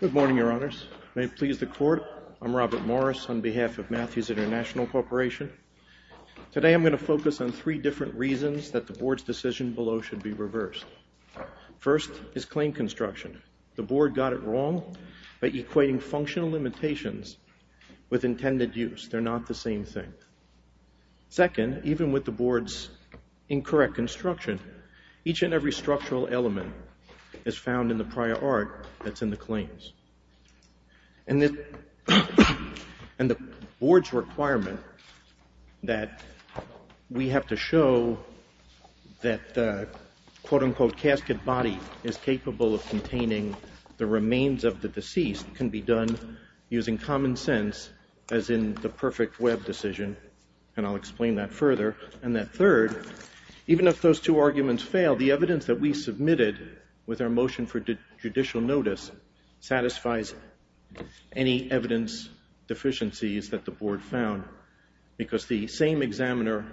Good morning, Your Honors. May it please the Court, I'm Robert Morris on behalf of Matthews International Corporation. Today I'm going to focus on three different reasons that the Board's decision below should be reversed. First is claim construction. The Board got it wrong by equating functional limitations with intended use. They're not the same thing. Second, even with the Board's incorrect construction, each and every structural element is found in the prior art that's in the claims. And the Board's requirement that we have to show that the, quote-unquote, casket body is capable of containing the remains of the deceased can be done using common sense as in the perfect web decision. And I'll explain that further. And that third, even if those two arguments fail, the evidence that we submitted with our motion for judicial notice satisfies any evidence deficiencies that the Board found. Because the same examiner,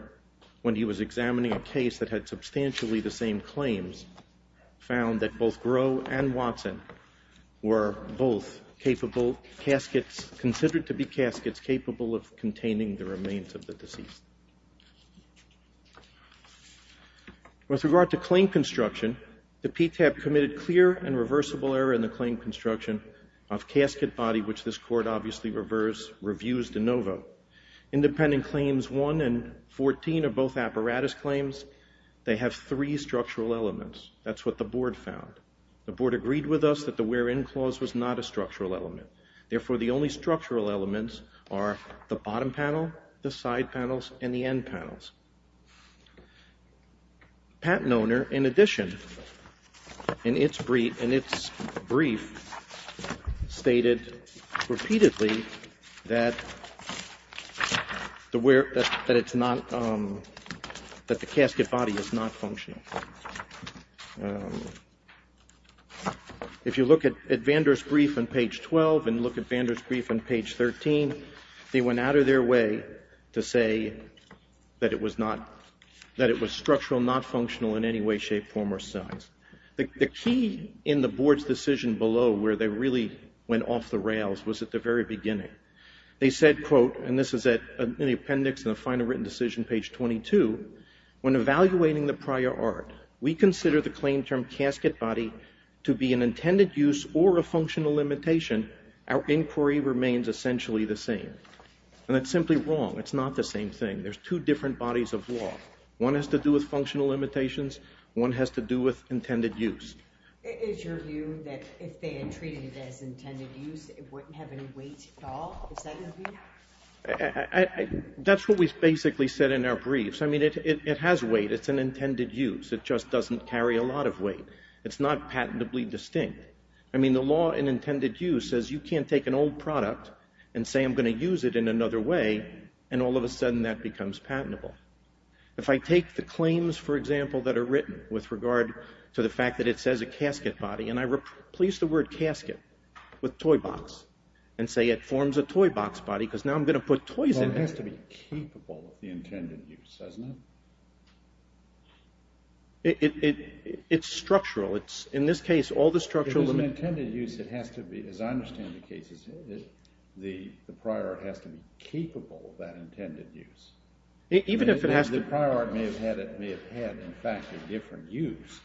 when he was examining a case that had substantially the same claims, found that both Gros and Watson were both capable caskets, considered to be caskets, capable of containing the remains of the deceased. With regard to claim construction, the PTAP committed clear and reversible error in the claim construction of casket body, which this independent claims 1 and 14 are both apparatus claims. They have three structural elements. That's what the Board found. The Board agreed with us that the wherein clause was not a structural element. Therefore, the only structural elements are the bottom panel, the side panels, and the end panels. Patent owner, in addition, in its brief, stated repeatedly that the casket body is not functional. If you look at Vander's brief on page 12 and look at Vander's brief on page 13, they went out of their way to say that it was structural, not functional in any way, shape, form, or size. The key in the Board's decision below where they really went off the rails was at the very beginning. They said, quote, and this is in the appendix in the final written decision, page 22, when evaluating the prior art, we consider the claim term casket body to be an intended use or a functional limitation. Our inquiry remains essentially the same. And that's simply wrong. It's not the same thing. There's two different bodies of law. One has to do with functional limitations. One has to do with intended use. Is your view that if they had treated it as intended use, it wouldn't have any weight at all? Is that your view? That's what we basically said in our briefs. I mean, it has weight. It's an intended use. It just doesn't carry a lot of weight. It's not patentably distinct. I mean, the law in intended use says you can't take an old product and say I'm going to use it in another way, and all of a sudden that becomes patentable. If I take the claims, for example, that are written with regard to the fact that it says a casket body, and I replace the word casket with toy box and say it forms a toy box body because now I'm going to put toys in it. Well, it has to be capable of the intended use, doesn't it? It's structural. It's, in this case, all the structural limitations. If it's an intended use, it has to be, as I understand the case, the prior art has to be capable of that intended use. Even if it has to... The prior art may have had, in fact, a different use,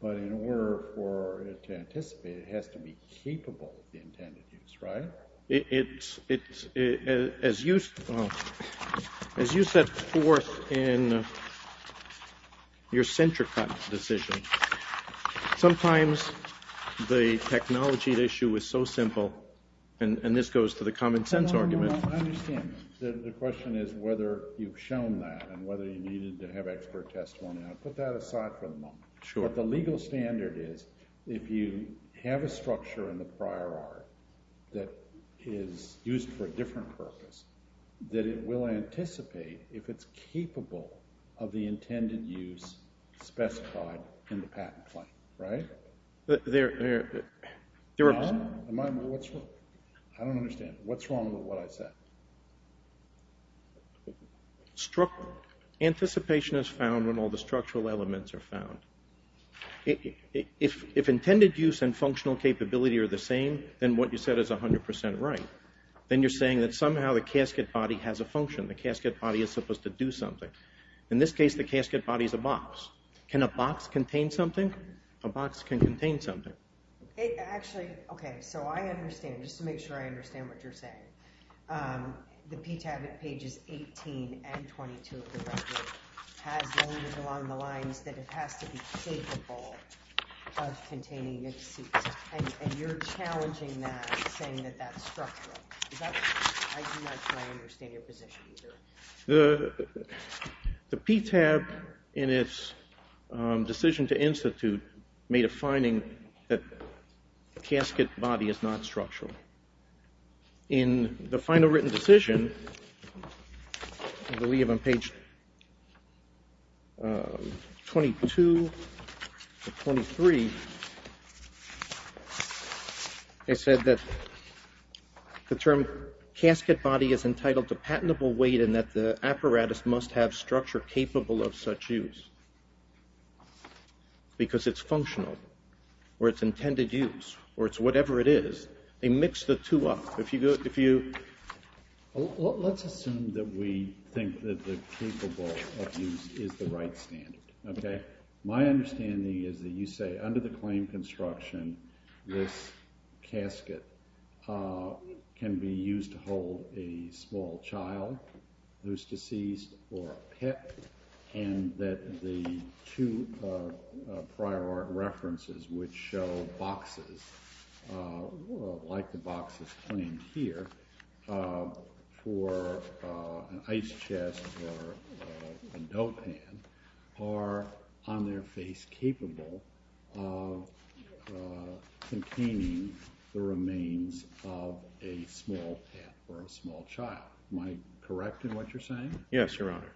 but in order for it to anticipate, it has to be capable of the intended use, right? It's, as you set forth in your center cut decision, sometimes the technology issue is so simple, and this goes to the common sense argument... You've shown that, and whether you needed to have expert testimony. I'll put that aside for the moment. Sure. But the legal standard is, if you have a structure in the prior art that is used for a different purpose, that it will anticipate if it's capable of the intended use specified in the patent claim, right? There are... I don't understand. What's wrong with what I said? Anticipation is found when all the structural elements are found. If intended use and functional capability are the same, then what you said is 100% right. Then you're saying that somehow the casket body has a function. The casket body is supposed to do something. In this case, the casket body is a box. Can a box contain something? A box can contain something. Actually, okay, so I understand, just to make sure I understand what you're saying. The PTAB at pages 18 and 22 of the record has limited along the lines that it has to be capable of containing a deceased, and you're challenging that, saying that that's structural. I do not fully understand your position either. The PTAB in its decision to institute made a finding that the casket body is not structural. In the final written decision, I believe on page 22 to 23, it said that the term casket body is entitled to patentable weight and that the apparatus must have structure capable of such use, because it's functional, or it's intended use, or it's whatever it is. They mix the two up. Let's assume that we think that the capable of use is the right standard. My understanding is that you say under the claim construction, this casket can be used to hold a small child who's deceased or a pet, and that the two prior art references which show boxes, like the boxes claimed here, for an ice chest or a dough pan, are on their path for a small child. Am I correct in what you're saying? Yes, Your Honor.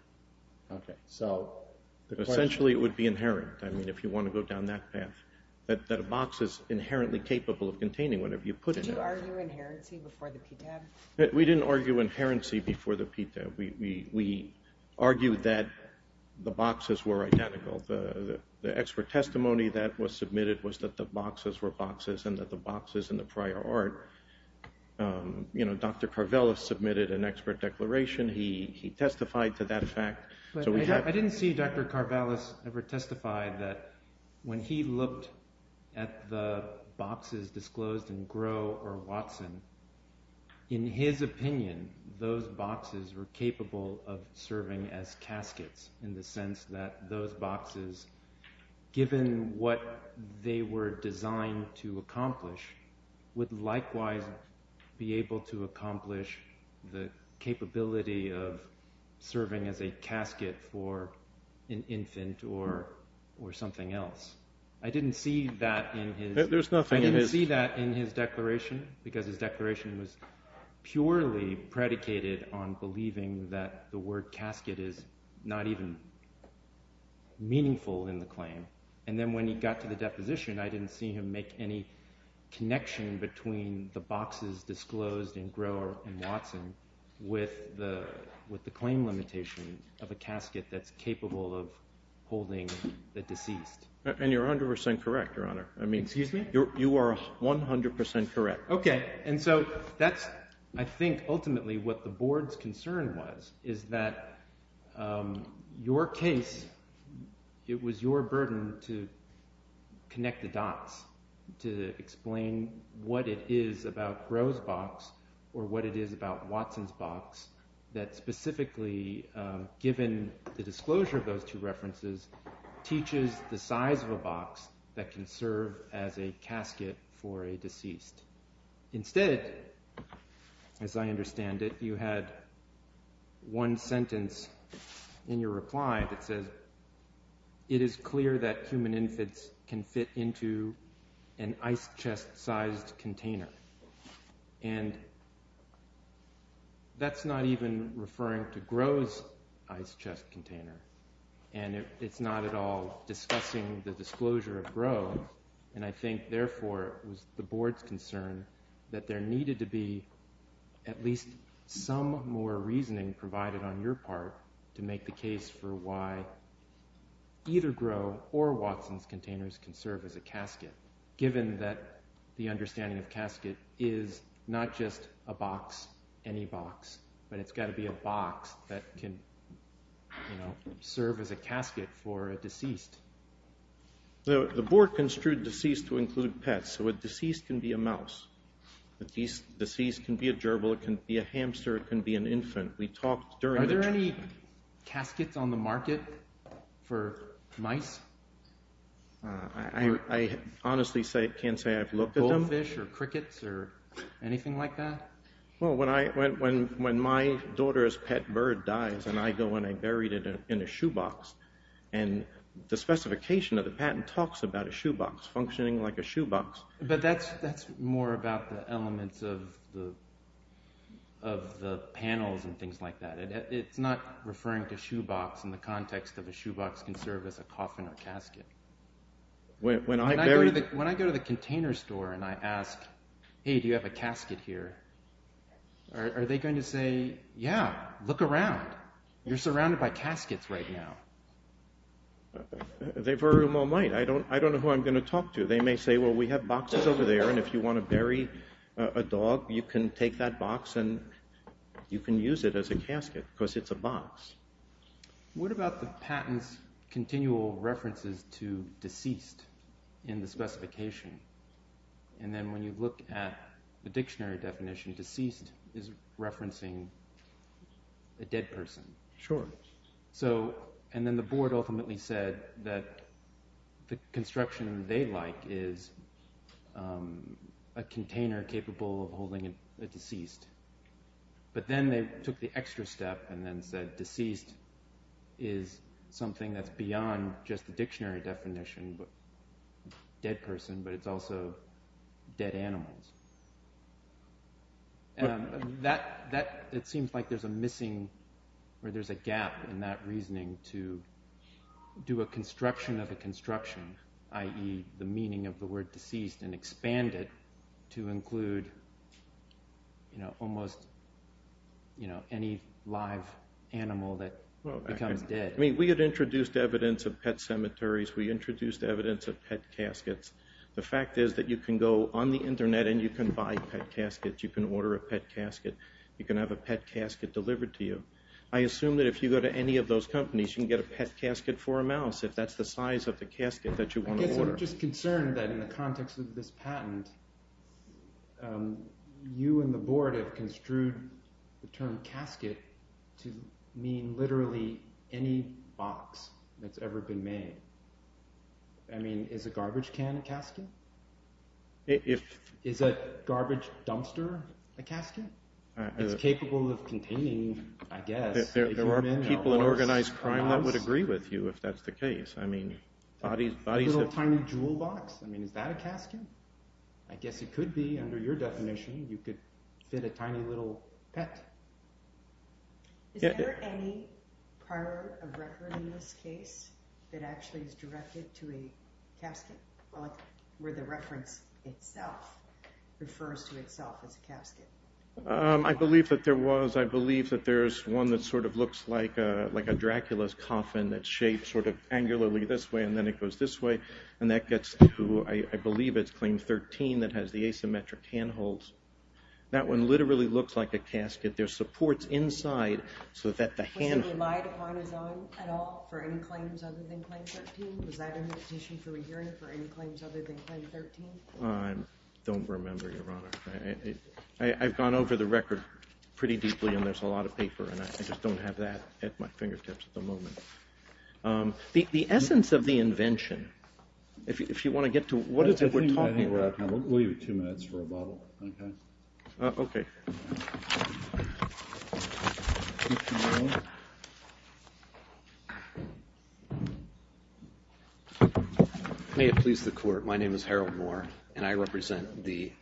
Essentially, it would be inherent, if you want to go down that path, that a box is inherently capable of containing whatever you put in it. Did you argue inherency before the PTAB? We didn't argue inherency before the PTAB. We argued that the boxes were identical. The expert testimony that was submitted was that the boxes were boxes and that the boxes were boxes in the prior art. Dr. Karvales submitted an expert declaration. He testified to that fact. I didn't see Dr. Karvales ever testify that when he looked at the boxes disclosed in Grow or Watson, in his opinion, those boxes were capable of serving as caskets in the sense that those boxes, given what they were designed to accomplish, would likewise be able to accomplish the capability of serving as a casket for an infant or something else. I didn't see that in his declaration because his declaration was purely predicated on believing that the word casket is not even meaningful in the claim. Then when he got to the deposition, I didn't see him make any connection between the boxes disclosed in Grow or Watson with the claim limitation of a casket that's capable of holding the deceased. You're 100% correct, Your Honor. Excuse me? You are 100% correct. Okay, and so that's, I think, ultimately what the Board's concern was, is that your case, it was your burden to connect the dots, to explain what it is about Grow's box or what it is about Watson's box that specifically, given the disclosure of those two references, teaches the size of a box that can serve as a casket for a deceased. Instead, as I understand it, you had one sentence in your reply that says, it is clear that human infants can fit into an ice chest-sized container, and that's not even referring to Grow's ice chest container, and it's not at all discussing the disclosure of Grow, and I think, therefore, it was the Board's concern that there needed to be at least some more reasoning provided on your part to make the case for why either Grow or Watson's containers can serve as a casket, given that the understanding of casket is not just a box, any box, but it's got to be a box that can serve as a casket for a deceased. The Board construed deceased to include pets, so a deceased can be a mouse, a deceased can be a gerbil, it can be a hamster, it can be an infant. Are there any caskets on the market for mice? I honestly can't say I've looked at them. Goldfish or crickets or anything like that? Well, when my daughter's pet bird dies and I go and I buried it in a shoebox, and the specification of the patent talks about a shoebox functioning like a shoebox. But that's more about the elements of the panels and things like that. It's not referring to shoebox in the context of a shoebox can serve as a coffin or casket. When I go to the container store and I ask, hey, do you have a casket here? Are they going to say, yeah, look around. You're surrounded by caskets right now. They very well might. I don't know who I'm going to talk to. They may say, well, we have boxes over there, and if you want to bury a dog, you can take that box and you can use it as a casket because it's a box. What about the patent's continual references to deceased in the specification? And then when you look at the dictionary definition, deceased is referencing a dead person. Sure. And then the board ultimately said that the construction they like is a container capable of holding a deceased. But then they took the extra step and then said deceased is something that's beyond just the dictionary definition, dead person, but it's also dead animals. It seems like there's a missing or there's a gap in that reasoning to do a construction of a construction, i.e., the meaning of the word deceased, and expand it to include almost any live animal that becomes dead. We had introduced evidence of pet cemeteries. We introduced evidence of pet caskets. The fact is that you can go on the Internet and you can buy pet caskets. You can order a pet casket. You can have a pet casket delivered to you. I assume that if you go to any of those companies, you can get a pet casket for a mouse. If that's the size of the casket that you want to order. I'm just concerned that in the context of this patent, you and the board have construed the term casket to mean literally any box that's ever been made. I mean, is a garbage can a casket? Is a garbage dumpster a casket? It's capable of containing, I guess, a human or a mouse. If it's a simple and organized crime, that would agree with you, if that's the case. A little tiny jewel box? I mean, is that a casket? I guess it could be, under your definition. You could fit a tiny little pet. Is there any part of record in this case that actually is directed to a casket, where the reference itself refers to itself as a casket? I believe that there was. I believe that there's one that sort of looks like a Dracula's coffin, that's shaped sort of angularly this way, and then it goes this way. And that gets to, I believe it's claim 13, that has the asymmetric handholds. That one literally looks like a casket. There's supports inside, so that the handholds... Was he relied upon his own at all, for any claims other than claim 13? Was that in the petition for re-hearing, for any claims other than claim 13? I don't remember, Your Honor. I've gone over the record pretty deeply, and there's a lot of paper, and I just don't have that at my fingertips at the moment. The essence of the invention, if you want to get to what it is that we're talking about... We'll give you two minutes for a bubble, okay? Okay. Thank you, Your Honor. May it please the Court, my name is Harold Moore, and I represent the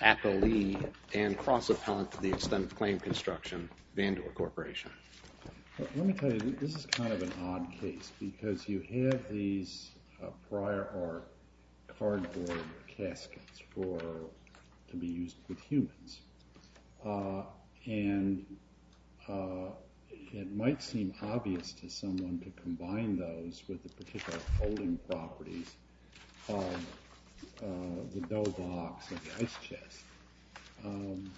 Appellee and Cross-Appellant to the Extent of Claim Construction, Vandua Corporation. Let me tell you, this is kind of an odd case, because you have these prior art cardboard caskets to be used with humans. And it might seem obvious to someone to combine those with the particular folding properties of the dough box or the ice chest.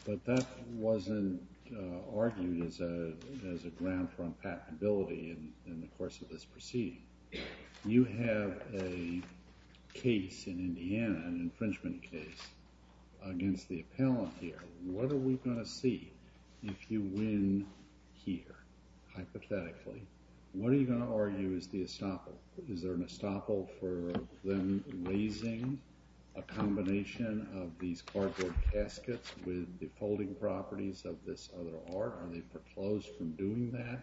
But that wasn't argued as a ground for unpatentability in the course of this proceeding. You have a case in Indiana, an infringement case, against the appellant here. What are we going to see if you win here, hypothetically? What are you going to argue is the estoppel? For them raising a combination of these cardboard caskets with the folding properties of this other art? Are they foreclosed from doing that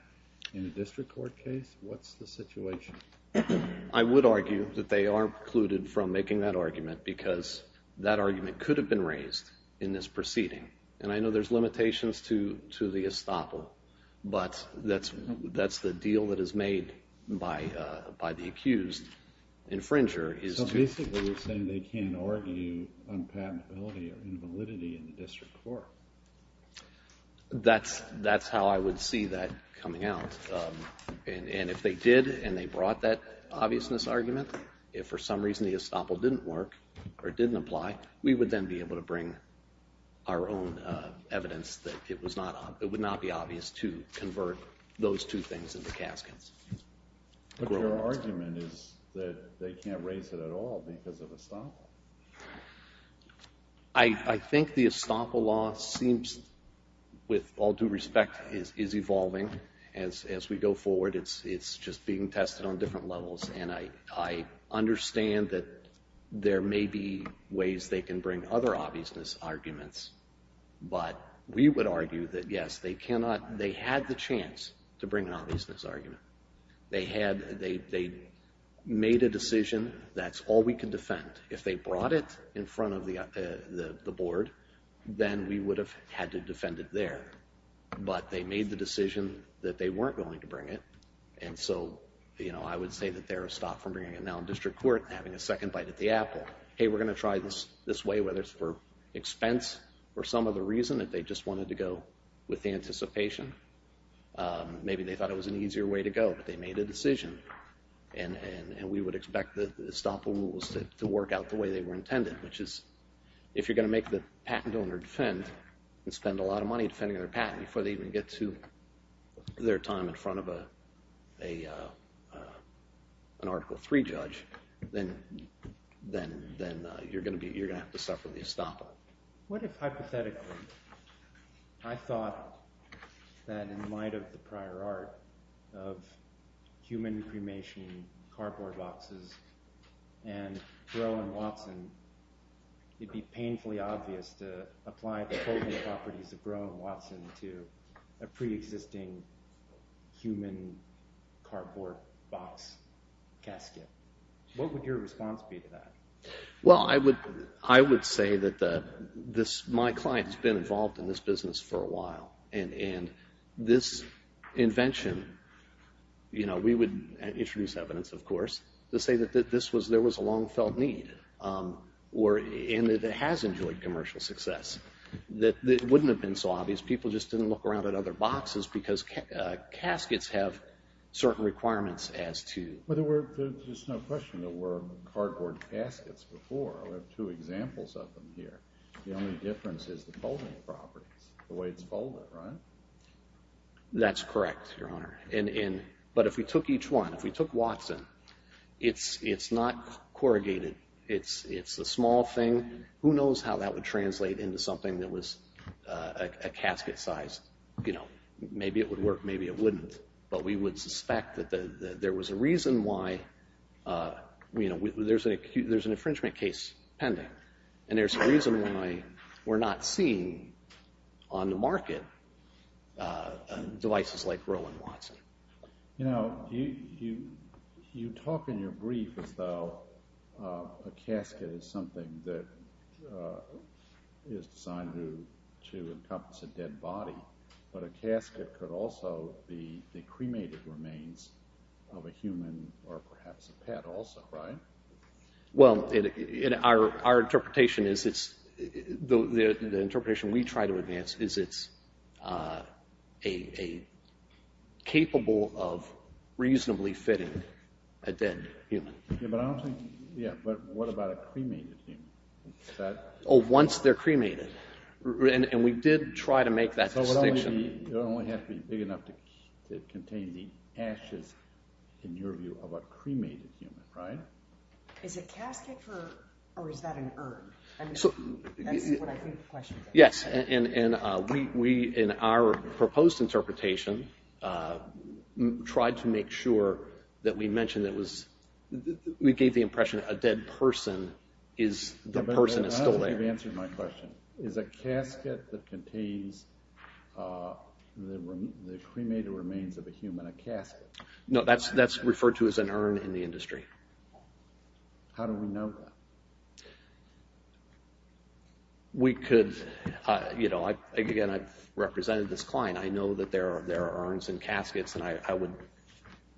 in a district court case? What's the situation? I would argue that they are precluded from making that argument, because that argument could have been raised in this proceeding. And I know there's limitations to the estoppel, but that's the deal that is made by the accused. So basically you're saying they can't argue unpatentability or invalidity in the district court? That's how I would see that coming out. And if they did and they brought that obviousness argument, if for some reason the estoppel didn't work or didn't apply, we would then be able to bring our own evidence that it would not be obvious to convert those two things into caskets. But your argument is that they can't raise it at all because of estoppel. I think the estoppel law seems, with all due respect, is evolving as we go forward. It's just being tested on different levels, and I understand that there may be ways they can bring other obviousness arguments. But we would argue that, yes, they had the chance to bring an obviousness argument. They made a decision that's all we can defend. If they brought it in front of the board, then we would have had to defend it there. But they made the decision that they weren't going to bring it. And so I would say that they're stopped from bringing it now in district court and having a second bite at the apple. Hey, we're going to try this way, whether it's for expense or some other reason, that they just wanted to go with the anticipation. Maybe they thought it was an easier way to go, but they made a decision. And we would expect the estoppel rules to work out the way they were intended, which is if you're going to make the patent owner defend and spend a lot of money defending their patent before they even get to their time in front of an Article III judge, then you're going to have to suffer the estoppel. What if, hypothetically, I thought that in light of the prior art of human cremation cardboard boxes and Groh and Watson, it'd be painfully obvious to apply the total properties of Groh and Watson to a preexisting human cardboard box casket? What would your response be to that? Well, I would say that my client's been involved in this business for a while. And this invention, you know, we would introduce evidence, of course, to say that there was a long-felt need. And it has enjoyed commercial success. It wouldn't have been so obvious. People just didn't look around at other boxes because caskets have certain requirements as to... Well, there's no question there were cardboard caskets before. I have two examples of them here. The only difference is the folding properties, the way it's folded, right? That's correct, Your Honor. But if we took each one, if we took Watson, it's not corrugated. It's a small thing. Who knows how that would translate into something that was a casket size. You know, maybe it would work, maybe it wouldn't. But we would suspect that there was a reason why, you know, there's an infringement case pending. And there's a reason why we're not seeing on the market devices like Rowan Watson. You know, you talk in your brief as though a casket is something that is designed to encompass a dead body. But a casket could also be the cremated remains of a human or perhaps a pet also, right? Well, our interpretation is the interpretation we try to advance is it's capable of reasonably fitting a dead human. Yeah, but what about a cremated human? Oh, once they're cremated. And we did try to make that distinction. So it would only have to be big enough to contain the ashes, in your view, of a cremated human, right? Is it casket or is that an urn? That's what I think the question is. Yes, and we, in our proposed interpretation, tried to make sure that we mentioned that we gave the impression a dead person is the person that's still there. You've answered my question. Is a casket that contains the cremated remains of a human a casket? No, that's referred to as an urn in the industry. How do we know that? We could, you know, again, I've represented this client. I know that there are urns and caskets and I would...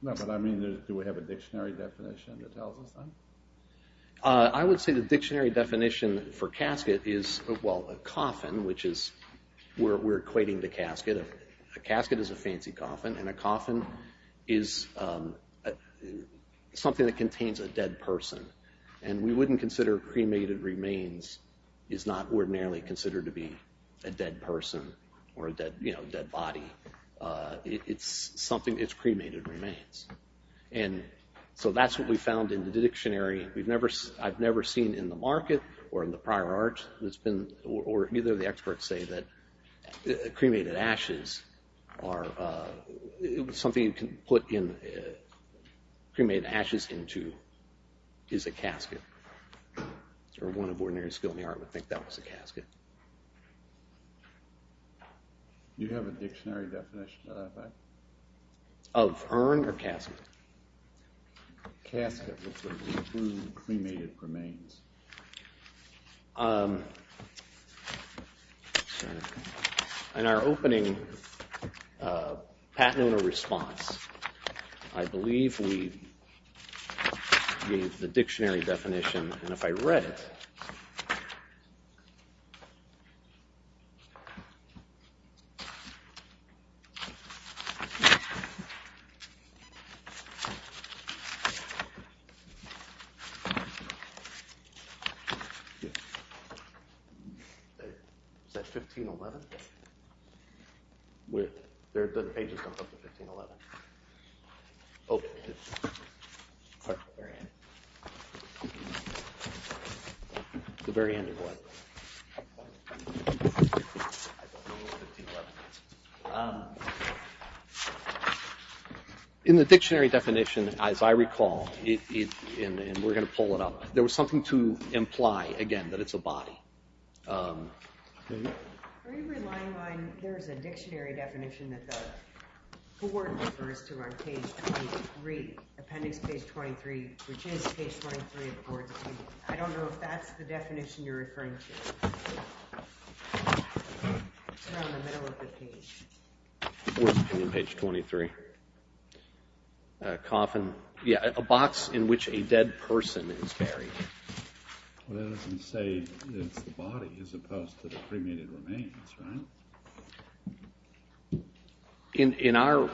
No, but I mean, do we have a dictionary definition that tells us that? I would say the dictionary definition for casket is, well, a coffin, which is where we're equating the casket. A casket is a fancy coffin and a coffin is something that contains a dead person. And we wouldn't consider cremated remains is not ordinarily considered to be a dead person or a dead, you know, dead body. It's something, it's cremated remains. And so that's what we found in the dictionary. We've never, I've never seen in the market or in the prior art that's been, or either of the experts say that cremated ashes are something you can put in, cremate ashes into, is a casket. Or one of ordinary skill in the art would think that was a casket. Do you have a dictionary definition of that? Of urn or casket? Casket, which would include cremated remains. In our opening Pat Nona response, I believe we gave the dictionary definition. And if I read it. 1511. With the pages of 1511. In the dictionary definition, as I recall, and we're going to pull it up, there was something to imply again that it's a body. Are you relying on, there's a dictionary definition that the board refers to on page 23, appendix page 23, which is page 23 of the board's opinion. I don't know if that's the definition you're referring to. It's around the middle of the page. Board's opinion, page 23. A coffin, yeah, a box in which a dead person is buried. Well, that doesn't say it's the body as opposed to the cremated remains, right? In our,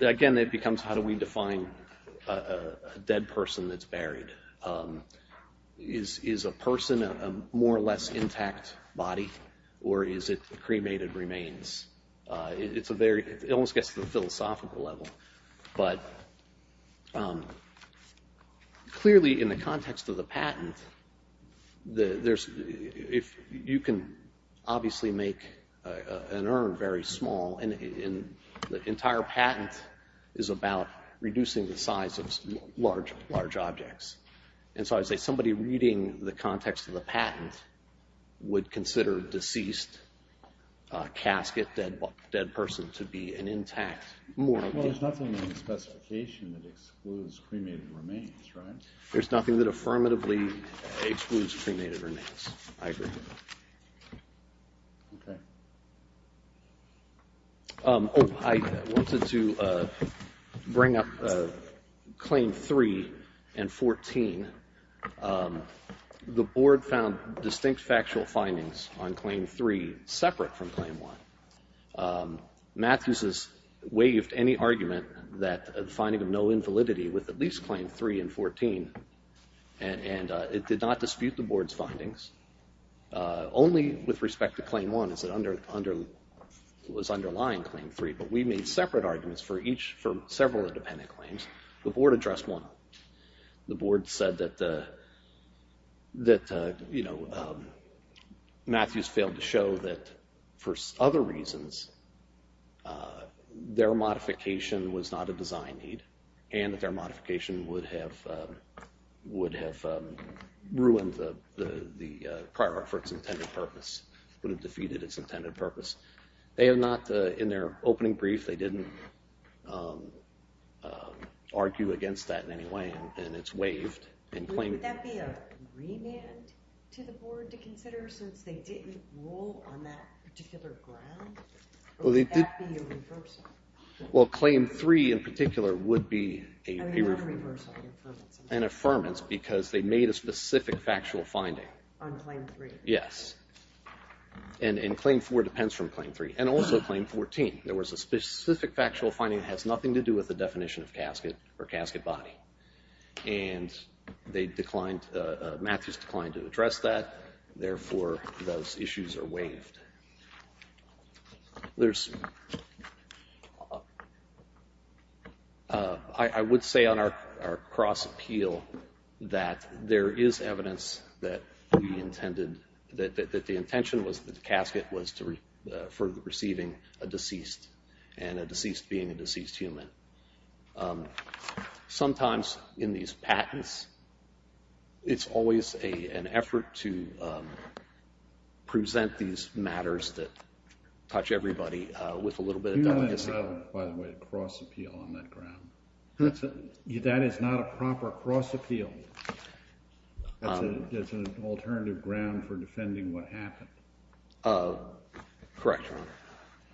again, it becomes how do we define a dead person that's buried? Is a person a more or less intact body? Or is it cremated remains? It's a very, it almost gets to the philosophical level. But clearly, in the context of the patent, you can obviously make an urn very small. And the entire patent is about reducing the size of large, large objects. And so I would say somebody reading the context of the patent would consider deceased, casket, dead person to be an intact. Well, there's nothing in the specification that excludes cremated remains, right? There's nothing that affirmatively excludes cremated remains. I agree. I wanted to bring up Claim 3 and 14. The board found distinct factual findings on Claim 3 separate from Claim 1. Matthews has waived any argument that the finding of no invalidity with at least Claim 3 and 14. And it did not dispute the board's findings. Only with respect to Claim 1 is it under, was underlying Claim 3. But we made separate arguments for each, for several independent claims. The board addressed one. The board said that Matthews failed to show that, for other reasons, their modification was not a design need. And that their modification would have ruined the prior art for its intended purpose, would have defeated its intended purpose. They have not, in their opening brief, they didn't argue against that in any way. And it's waived. Would that be a remand to the board to consider, since they didn't rule on that particular ground? Or would that be a reversal? Well, Claim 3 in particular would be an affirmance, because they made a specific factual finding. On Claim 3? Yes. And Claim 4 depends from Claim 3. And also Claim 14. There was a specific factual finding that has nothing to do with the definition of casket or casket body. And they declined, Matthews declined to address that. Therefore, those issues are waived. There's, I would say on our cross-appeal that there is evidence that we intended, that the intention was that the casket was for receiving a deceased, and a deceased being a deceased human. Sometimes in these patents, it's always an effort to present these matters that touch everybody with a little bit of delicacy. Do you have, by the way, a cross-appeal on that ground? That is not a proper cross-appeal. That's an alternative ground for defending what happened. Correct, Your Honor.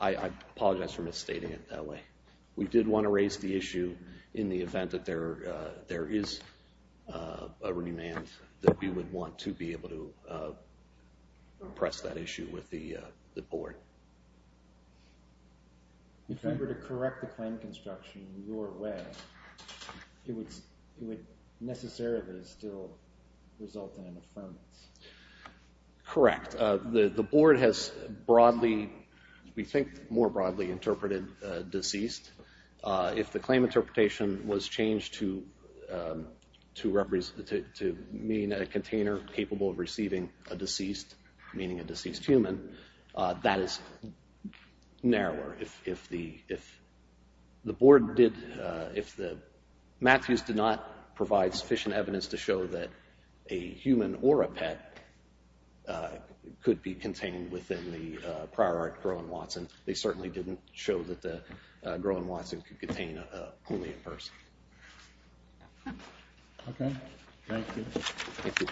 I apologize for misstating it that way. We did want to raise the issue in the event that there is a remand, that we would want to be able to press that issue with the Board. If we were to correct the claim construction in your way, it would necessarily still result in an affirmance. Correct. The Board has broadly, we think more broadly, interpreted deceased. If the claim interpretation was changed to mean a container capable of receiving a deceased, meaning a deceased human, that is narrower. If the Board did, if the, Matthews did not provide sufficient evidence to show that a human or a pet could be contained within the prior art Groen-Watson, they certainly didn't show that the Groen-Watson could contain only a person. Okay. Thank you. Thank you.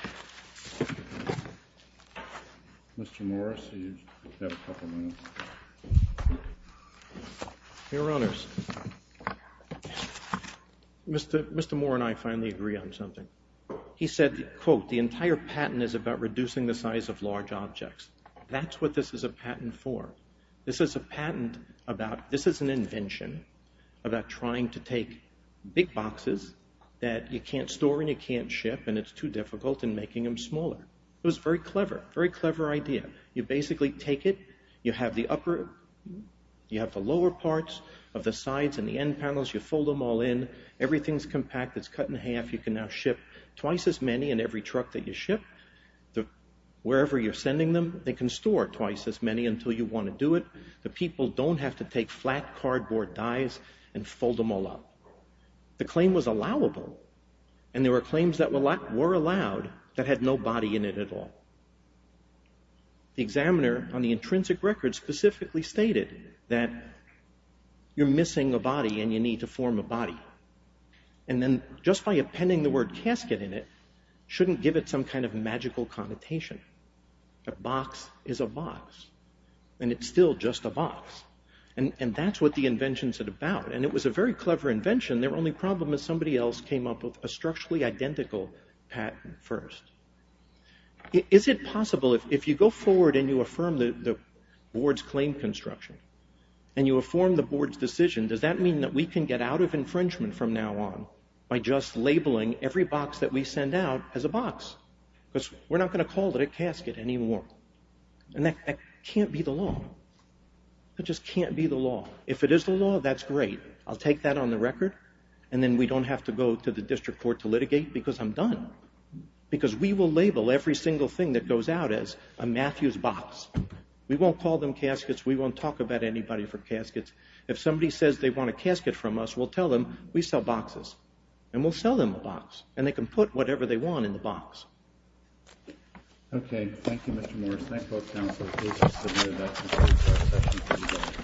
Mr. Morris, you have a couple minutes. Your Honors, Mr. Moore and I finally agree on something. He said, quote, the entire patent is about reducing the size of large objects. That's what this is a patent for. This is a patent about, this is an invention about trying to take big boxes that you can't store and you can't ship and it's too difficult in making them smaller. It was a very clever, very clever idea. You basically take it. You have the upper, you have the lower parts of the sides and the end panels. You fold them all in. Everything's compact. It's cut in half. You can now ship twice as many in every truck that you ship. Wherever you're sending them, they can store twice as many until you want to do it. The people don't have to take flat cardboard dies and fold them all up. The claim was allowable and there were claims that were allowed that had no body in it at all. The examiner on the intrinsic record specifically stated that you're missing a body and you need to form a body. And then just by appending the word casket in it shouldn't give it some kind of magical connotation. A box is a box and it's still just a box. And that's what the invention's about. And it was a very clever invention. Their only problem is somebody else came up with a structurally identical patent first. Is it possible if you go forward and you affirm the board's claim construction and you affirm the board's decision, does that mean that we can get out of infringement from now on by just labeling every box that we send out as a box? Because we're not going to call it a casket anymore. And that can't be the law. It just can't be the law. If it is the law, that's great. I'll take that on the record and then we don't have to go to the district court to litigate because I'm done. Because we will label every single thing that goes out as a Matthews box. We won't call them caskets. We won't talk about anybody for caskets. If somebody says they want a casket from us, we'll tell them we sell boxes. And we'll sell them a box. And they can put whatever they want in the box. Okay. Thank you, Mr. Morris. Thank you, both counselors. Please just admit that. Thank you.